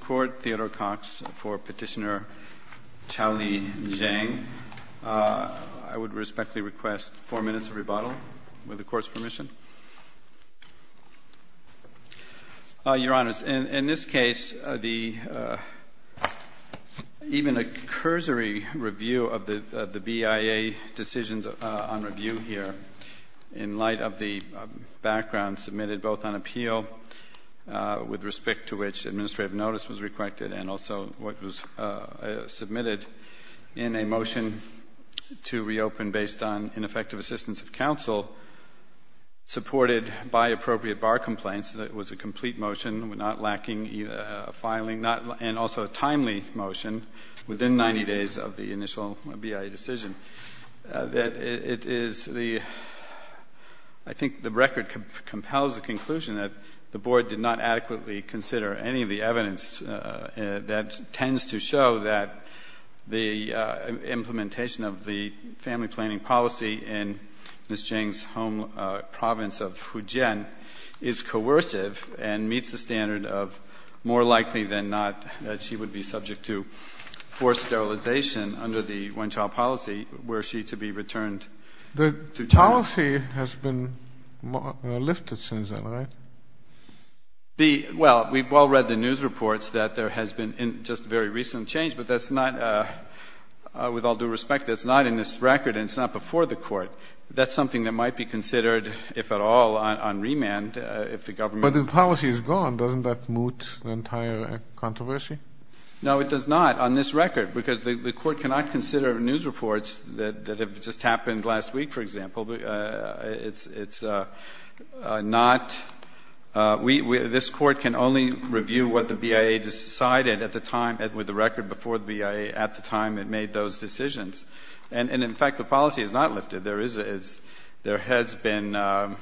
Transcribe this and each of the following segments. Court, Theodore Cox, for Petitioner Qiaoli Zheng. I would respectfully request four minutes of rebuttal, with the Court's permission. Your Honors, in this case, even a cursory review of the BIA decisions on review here, in light of the background submitted both on appeal, with respect to which administrative notice was requested, and also what was submitted in a motion to reopen based on ineffective assistance of counsel, supported by appropriate bar complaints. It was a complete motion, not lacking filing, and also a timely motion within 90 days of the initial BIA decision. It is the — I think the record compels the conclusion that the Board did not adequately consider any of the evidence that tends to show that the implementation of the family planning policy in Ms. Zheng's home province of Fujian is coercive and meets the standard of more likely than not that she would be forced sterilization under the one-child policy were she to be returned to China. The policy has been lifted since then, right? The — well, we've all read the news reports that there has been just a very recent change, but that's not — with all due respect, that's not in this record and it's not before the Court. That's something that might be considered, if at all, on remand if the government — But the policy is gone. Doesn't that moot the entire controversy? No, it does not on this record, because the Court cannot consider news reports that have just happened last week, for example. It's not — we — this Court can only review what the BIA decided at the time, with the record before the BIA, at the time it made those decisions. And, in fact, the policy is not lifted. There is — there has been a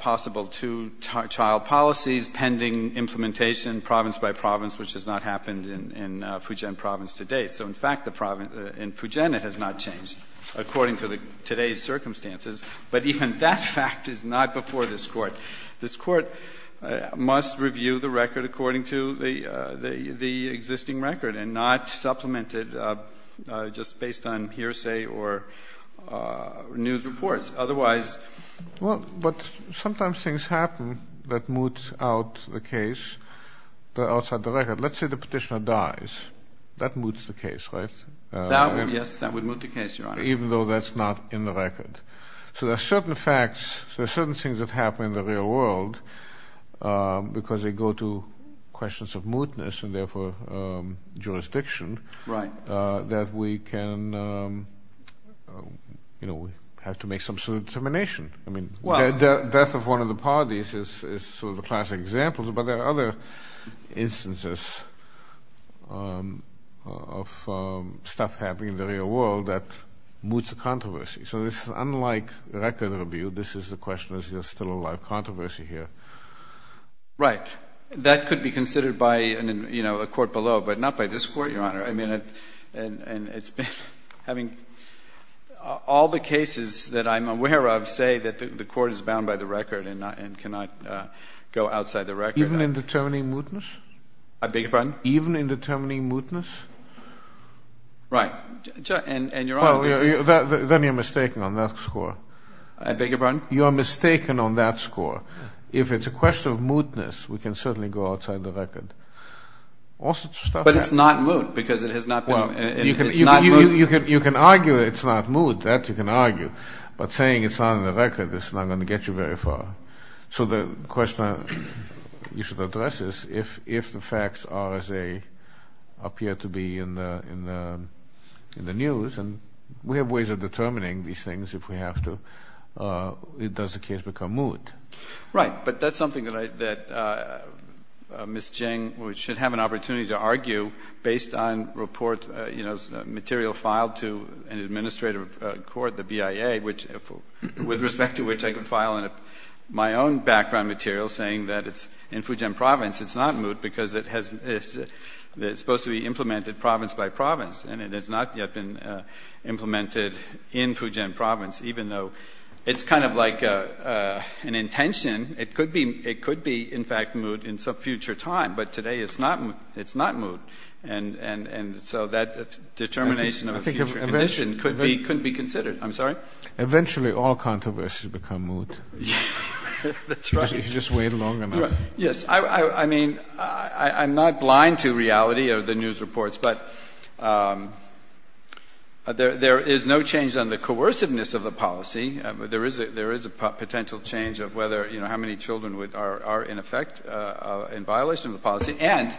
possible two-child policy pending implementation province by province, which has not happened in Fujian province to date. So, in fact, the — in Fujian it has not changed, according to today's circumstances. But even that fact is not before this Court. This Court must review the record according to the existing record and not supplement it just based on hearsay or news reports. Otherwise — Well, but sometimes things happen that moot out the case that are outside the record. Let's say the petitioner dies. That moots the case, right? That would — yes, that would moot the case, Your Honor. Even though that's not in the record. So there are certain facts — there are certain things that happen in the real world because they go to questions of mootness and, therefore, jurisdiction that we can — you know, we have to make some sort of determination. I mean, the death of one of the parties is sort of a classic example, but there are other instances of stuff happening in the real world that moots the controversy. So this is unlike record review. This is the question, is there still a lot of controversy here? Right. That could be considered by, you know, a court below, but not by this Court, Your Honor. I mean, it's — having all the cases that I'm aware of say that the Court is bound by the record and cannot go outside the record. Even in determining mootness? I beg your pardon? Even in determining mootness? Right. And, Your Honor, this is — Well, then you're mistaken on that score. I beg your pardon? You are mistaken on that score. If it's a question of mootness, we can certainly go outside the record. All sorts of stuff happens. But it's not moot because it has not been — Well, you can argue it's not moot. That you can argue. But saying it's not in the record is not going to get you very far. So the question you should address is if the facts are as they appear to be in the news, and we have ways of determining these things if we have to, does the case become moot? Right. But that's something that I — that Ms. Geng should have an opportunity to argue based on report — you know, material filed to an administrative court, the BIA, which — with respect to which I could file my own background material saying that it's in Fujian Province. It's not moot because it has — it's supposed to be implemented province by province, and it has not yet been implemented in Fujian Province, even though it's kind of like an intention. It could be in fact moot in some future time, but today it's not moot. And so that determination of a future condition could be considered. I'm sorry? Eventually all controversies become moot. That's right. If you just wait long enough. Yes. I mean, I'm not blind to reality of the news reports, but there is no change on the coerciveness of the policy. There is a potential change of whether — you know, how many children are in effect in violation of the policy. And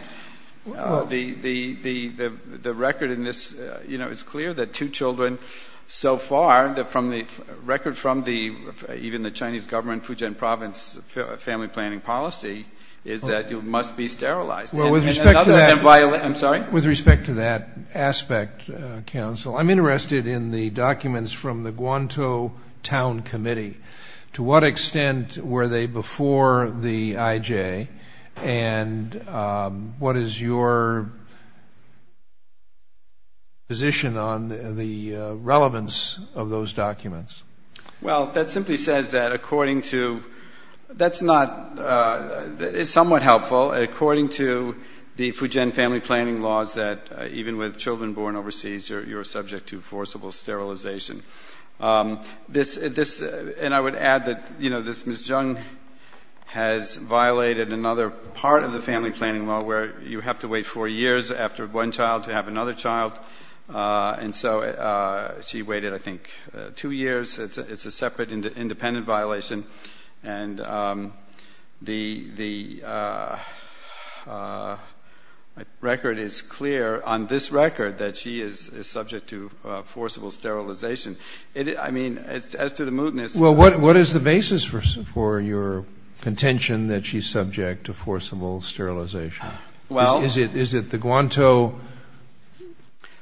the record in this, you know, it's clear that two children so far that from the — record from the — even the Chinese government Fujian Province family planning policy is that it must be sterilized. And another — Well, with respect to that — I'm sorry? With respect to that aspect, counsel, I'm interested in the documents from the Guantou Town Committee. To what extent were they before the IJ? And what is your position on the relevance of those documents? Well, that simply says that according to — that's not — it's somewhat helpful. According to the Fujian family planning laws that even with children born overseas, you're subject to forcible sterilization. This — and I would add that, you know, this — Ms. Jiang has violated another part of the family planning law where you have to wait four years after one child to have another child. And so she waited, I think, two years. It's a separate independent violation. And the record is clear on this record that she is subject to forcible sterilization. I mean, as to the mootness — Well, what is the basis for your contention that she's subject to forcible sterilization? Well — Is it the Guantou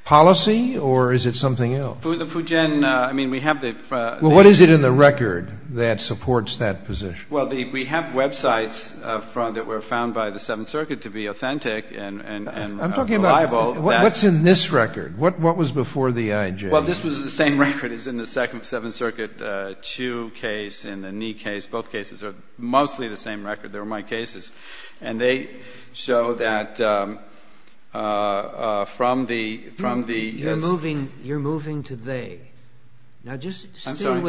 policy or is it something else? The Fujian — I mean, we have the — Well, what is it in the record that supports that position? Well, the — we have websites from — that were found by the Seventh Circuit to be authentic and reliable. I'm talking about — what's in this record? What was before the IJ? Well, this was the same record as in the Second — Seventh Circuit Chu case and the Ni case. Both cases are mostly the same record. They were my cases. And they show that from the — You're moving — you're moving to they. Now, just — I'm sorry.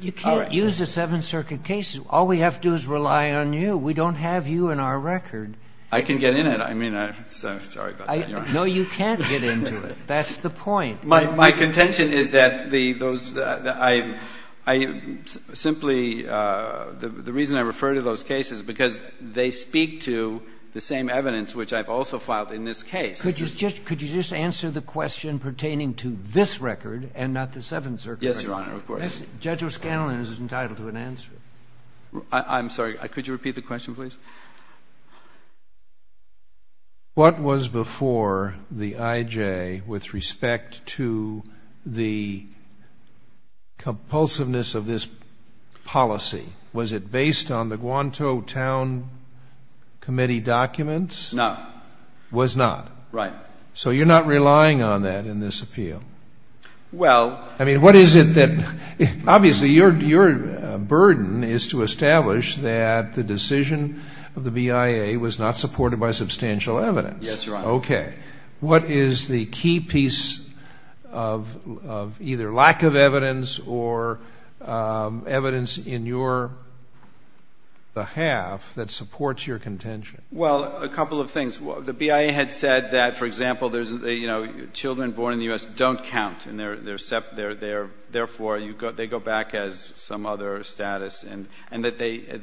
You can't use the Seventh Circuit cases. All we have to do is rely on you. We don't have you in our record. I can get in it. I mean, I'm sorry about that. You're right. No, you can't get into it. That's the point. My contention is that the — those — I simply — the reason I refer to those cases is because they speak to the same evidence which I've also filed in this case. Could you just answer the question pertaining to this record and not the Seventh Circuit? Yes, Your Honor, of course. Judge O'Scanlan is entitled to an answer. I'm sorry. Could you repeat the question, please? What was before the IJ with respect to the compulsiveness of this policy? Was it based on the Guantou Town Committee documents? No. Was not. Right. So you're not relying on that in this appeal? Well — I mean, what is it that — obviously, your burden is to establish that the decision of the BIA was not supported by substantial evidence. Yes, Your Honor. Okay. What is the key piece of either lack of evidence or evidence in your — the half that supports your contention? Well, a couple of things. The BIA had said that, for example, there's — you know, children born in the U.S. don't count, and therefore, they go back as some other status, and that they — Did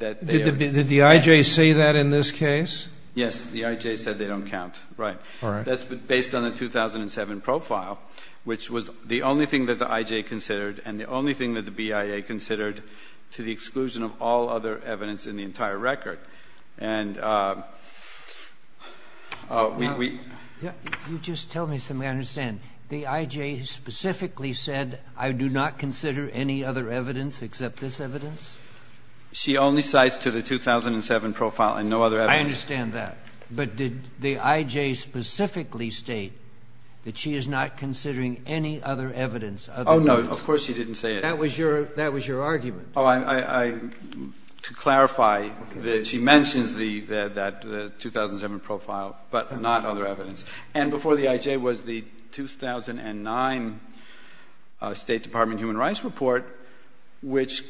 the IJ say that in this case? Yes. The IJ said they don't count. Right. All right. That's based on the 2007 profile, which was the only thing that the IJ considered and the only thing that the BIA considered to the exclusion of all other evidence in the entire record. And we — You just tell me something I understand. The IJ specifically said, I do not consider any other evidence except this evidence? She only cites to the 2007 profile and no other evidence. I understand that. But did the IJ specifically state that she is not considering any other evidence other than this? Oh, no. Of course she didn't say it. That was your — that was your argument. Oh, I — to clarify, she mentions the — that 2007 profile, but not other evidence. And before the IJ was the 2009 State Department Human Rights Report, which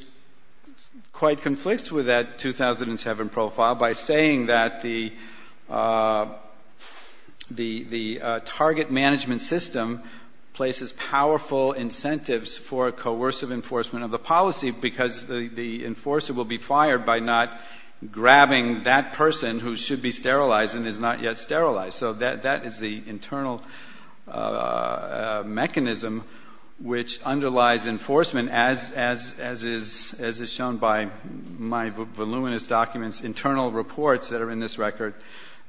quite conflicts with that 2007 profile by saying that the — the target management system places powerful incentives for a coercive enforcement of the policy because the enforcer will be fired by not grabbing that person who should be sterilized and is not yet sterilized. So that is the internal mechanism which underlies enforcement, as is shown by my voluminous documents, internal reports that are in this record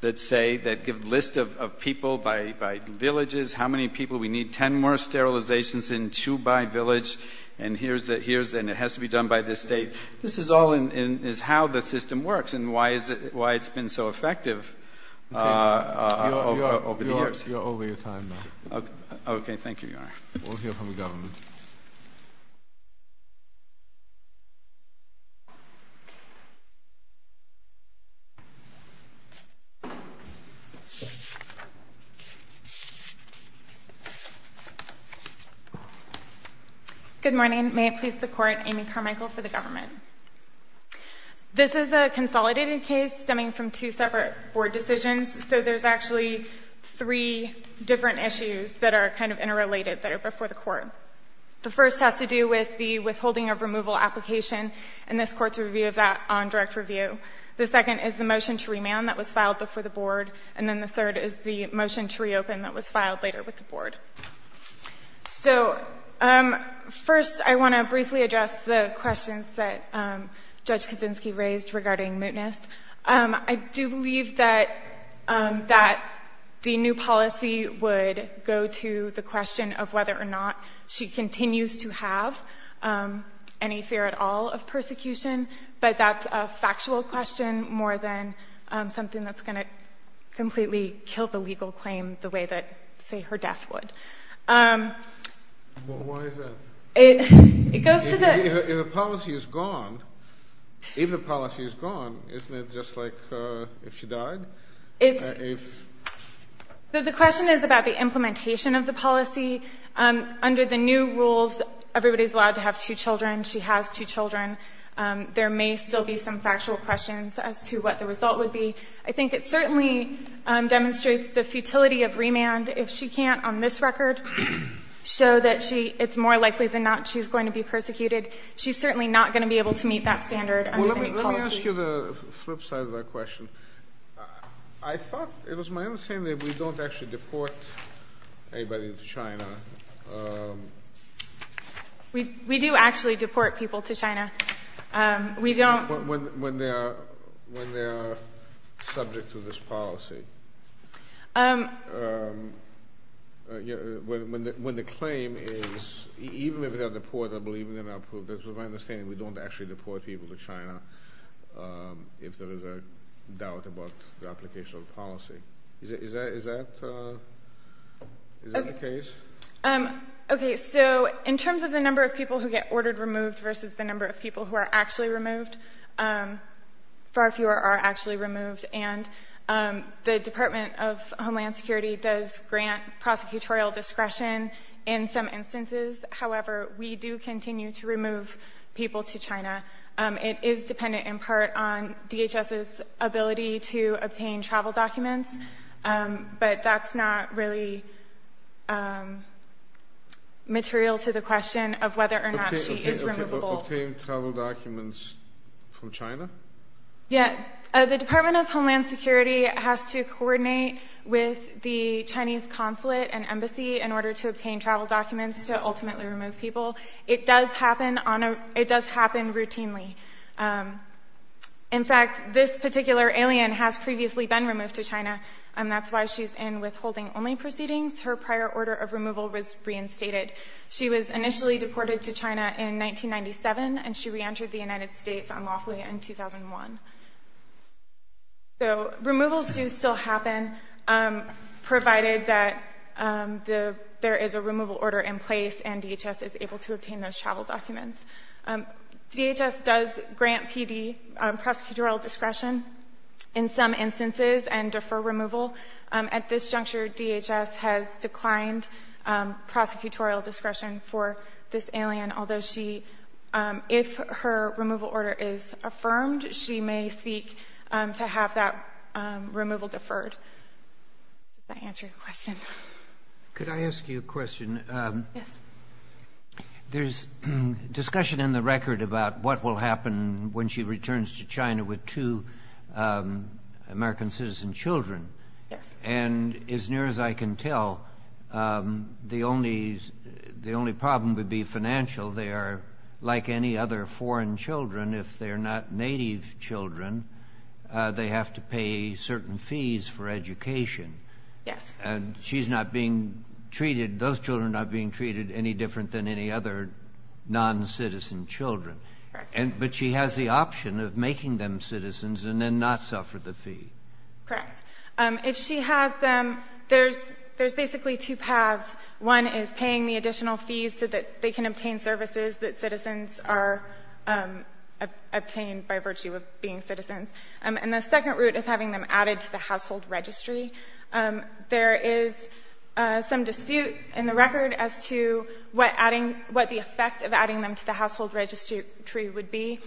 that say — that give list of people by villages, how many people we need, 10 more sterilizations in Chubai village, and here's the — and it has to be done by this state. This is all in — is how the system works and why it's been so effective. Okay. You're over your time now. Thank you, Your Honor. We'll hear from the government. Good morning. May it please the Court, Amy Carmichael for the government. This is a consolidated case stemming from two separate board decisions, so there's actually three different issues that are kind of interrelated that are before the Court. The first has to do with the withholding of removal application and this Court's review of that on direct review. The second is the motion to remand that was filed before the Board, and then the third is the motion to reopen that was filed later with the Board. So, first, I want to briefly address the questions that Judge Kaczynski raised regarding mootness. I do believe that the new policy would go to the question of whether or not she continues to have any fear at all of persecution, but that's a factual question more than something that's going to completely kill the legal claim the way that, say, her death would. Well, why is that? If the policy is gone, isn't it just like if she died? The question is about the implementation of the policy. Under the new rules, everybody's allowed to have two children. She has two children. There may still be some factual questions as to what the result would be. I think it certainly demonstrates the futility of remand. If she can't, on this record, show that it's more likely than not she's going to be persecuted, she's certainly not going to be able to meet that standard and meet policy. Well, let me ask you the flip side of that question. I thought it was my understanding that we don't actually deport anybody to China. We do actually deport people to China. We don't. When they are subject to this policy, when the claim is even if they're deportable, even if they're not proved, that's my understanding. We don't actually deport people to China if there is a doubt about the application of the policy. Is that the case? Okay, so in terms of the number of people who get ordered removed versus the number of people who are actually removed, far fewer are actually removed. And the Department of Homeland Security does grant prosecutorial discretion in some instances. However, we do continue to remove people to China. It is dependent in part on DHS's ability to obtain travel documents. But that's not really material to the question of whether or not she is removable. Obtain travel documents from China? Yeah. The Department of Homeland Security has to coordinate with the Chinese consulate and embassy in order to obtain travel documents to ultimately remove people. It does happen routinely. In fact, this particular alien has previously been removed to China, and that's why she's in withholding-only proceedings. Her prior order of removal was reinstated. She was initially deported to China in 1997, and she reentered the United States unlawfully in 2001. So removals do still happen, provided that there is a removal order in place and DHS is able to obtain those travel documents. DHS does grant PD prosecutorial discretion in some instances and defer removal. At this juncture, DHS has declined prosecutorial discretion for this alien, although she, if her removal order is affirmed, she may seek to have that removal deferred. Does that answer your question? Could I ask you a question? Yes. There's discussion in the record about what will happen when she returns to China with two American citizen children. Yes. And as near as I can tell, the only problem would be financial. They are like any other foreign children. If they're not native children, they have to pay certain fees for education. Yes. And she's not being treated, those children are not being treated any different than any other noncitizen children. Correct. But she has the option of making them citizens and then not suffer the fee. Correct. If she has them, there's basically two paths. One is paying the additional fees so that they can obtain services that citizens are obtained by virtue of being citizens. And the second route is having them added to the household registry. There is some dispute in the record as to what the effect of adding them to the household registry would be.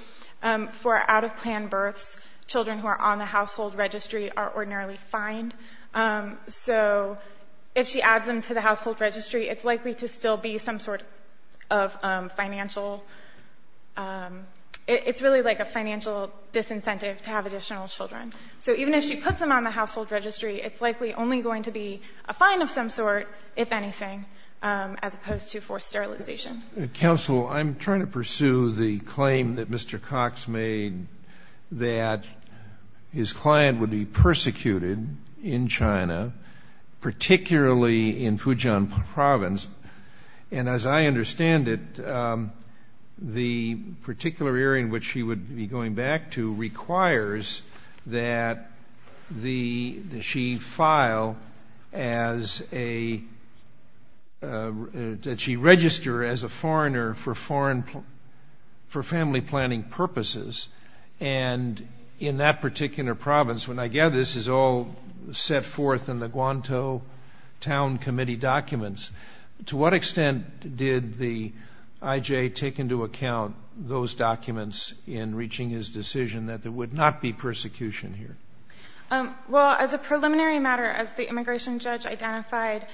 For out-of-plan births, children who are on the household registry are ordinarily fined. So if she adds them to the household registry, it's likely to still be some sort of financial it's really like a financial disincentive to have additional children. So even if she puts them on the household registry, it's likely only going to be a fine of some sort, if anything, as opposed to forced sterilization. Counsel, I'm trying to pursue the claim that Mr. Cox made that his client would be persecuted in China, particularly in Fujian province. And as I understand it, the particular area in which she would be going back to requires that she file as a that she register as a foreigner for family planning purposes. And in that particular province, when I gather this is all set forth in the Guantou town committee documents, to what extent did the IJ take into account those documents in reaching his decision that there would not be persecution here? Well, as a preliminary matter, as the immigration judge identified,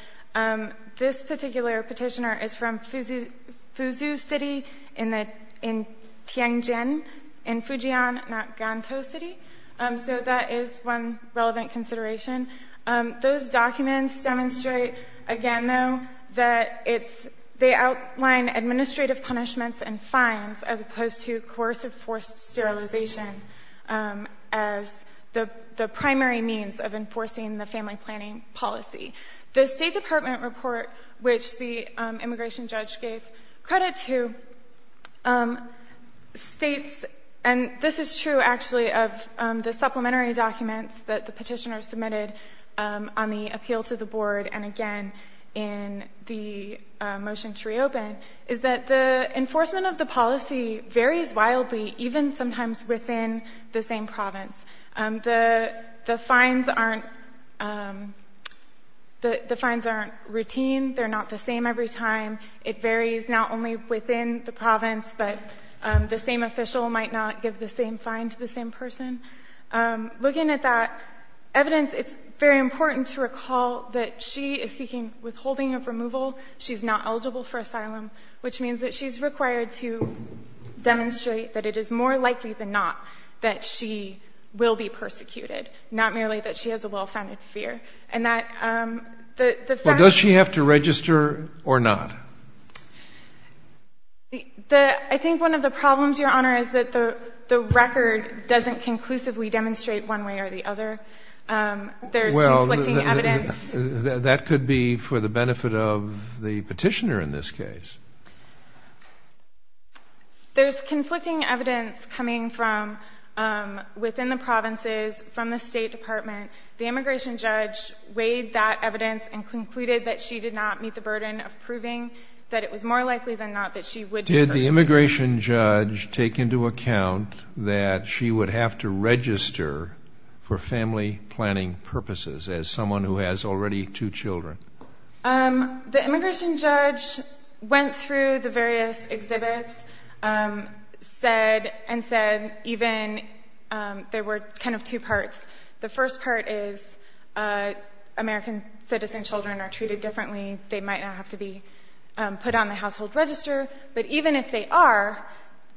this particular petitioner is from Fuzhou city in Tianjin, in Fujian, not Guantou city. So that is one relevant consideration. Those documents demonstrate, again, though, that they outline administrative punishments and fines, as opposed to coercive forced sterilization as the primary means of enforcing the family planning policy. The State Department report, which the immigration judge gave credit to, states, and this is true actually of the supplementary documents that the petitioner submitted on the appeal to the board and again in the motion to reopen, is that the enforcement of the policy varies wildly, even sometimes within the same province. The fines aren't routine. They're not the same every time. It varies not only within the province, but the same official might not give the same fine to the same person. Looking at that evidence, it's very important to recall that she is seeking withholding of removal. She's not eligible for asylum, which means that she's required to demonstrate that it is more likely than not that she will be persecuted, not merely that she has a well-founded fear. And that the fact that Well, does she have to register or not? I think one of the problems, Your Honor, is that the record doesn't conclusively demonstrate one way or the other. There's conflicting evidence. Well, that could be for the benefit of the petitioner in this case. There's conflicting evidence coming from within the provinces, from the State Department. The immigration judge weighed that evidence and concluded that she did not meet the burden of proving that it was more likely than not that she would be persecuted. Did the immigration judge take into account that she would have to register for family planning purposes as someone who has already two children? The immigration judge went through the various exhibits, said and said even there were kind of two parts. The first part is American citizen children are treated differently. They might not have to be put on the household register. But even if they are,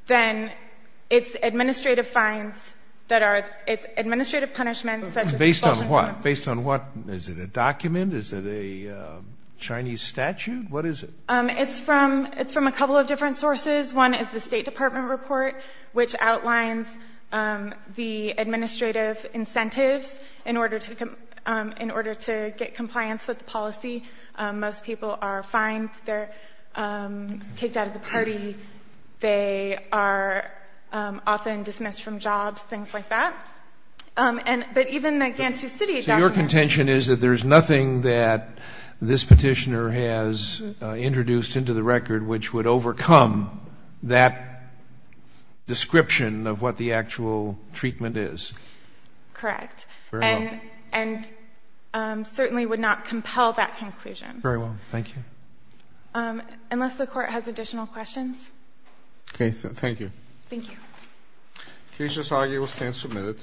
then it's administrative fines that are, it's administrative punishments. Based on what? Based on what? Is it a document? Is it a Chinese statute? What is it? It's from a couple of different sources. One is the State Department report, which outlines the administrative incentives in order to get compliance with the policy. Most people are fined. They're kicked out of the party. They are often dismissed from jobs, things like that. But even the Gantu City document. So your contention is that there is nothing that this Petitioner has introduced into the record which would overcome that description of what the actual treatment is? Correct. And certainly would not compel that conclusion. Very well. Thank you. Unless the Court has additional questions. Okay. Thank you. Thank you. Case just argued, stand submitted.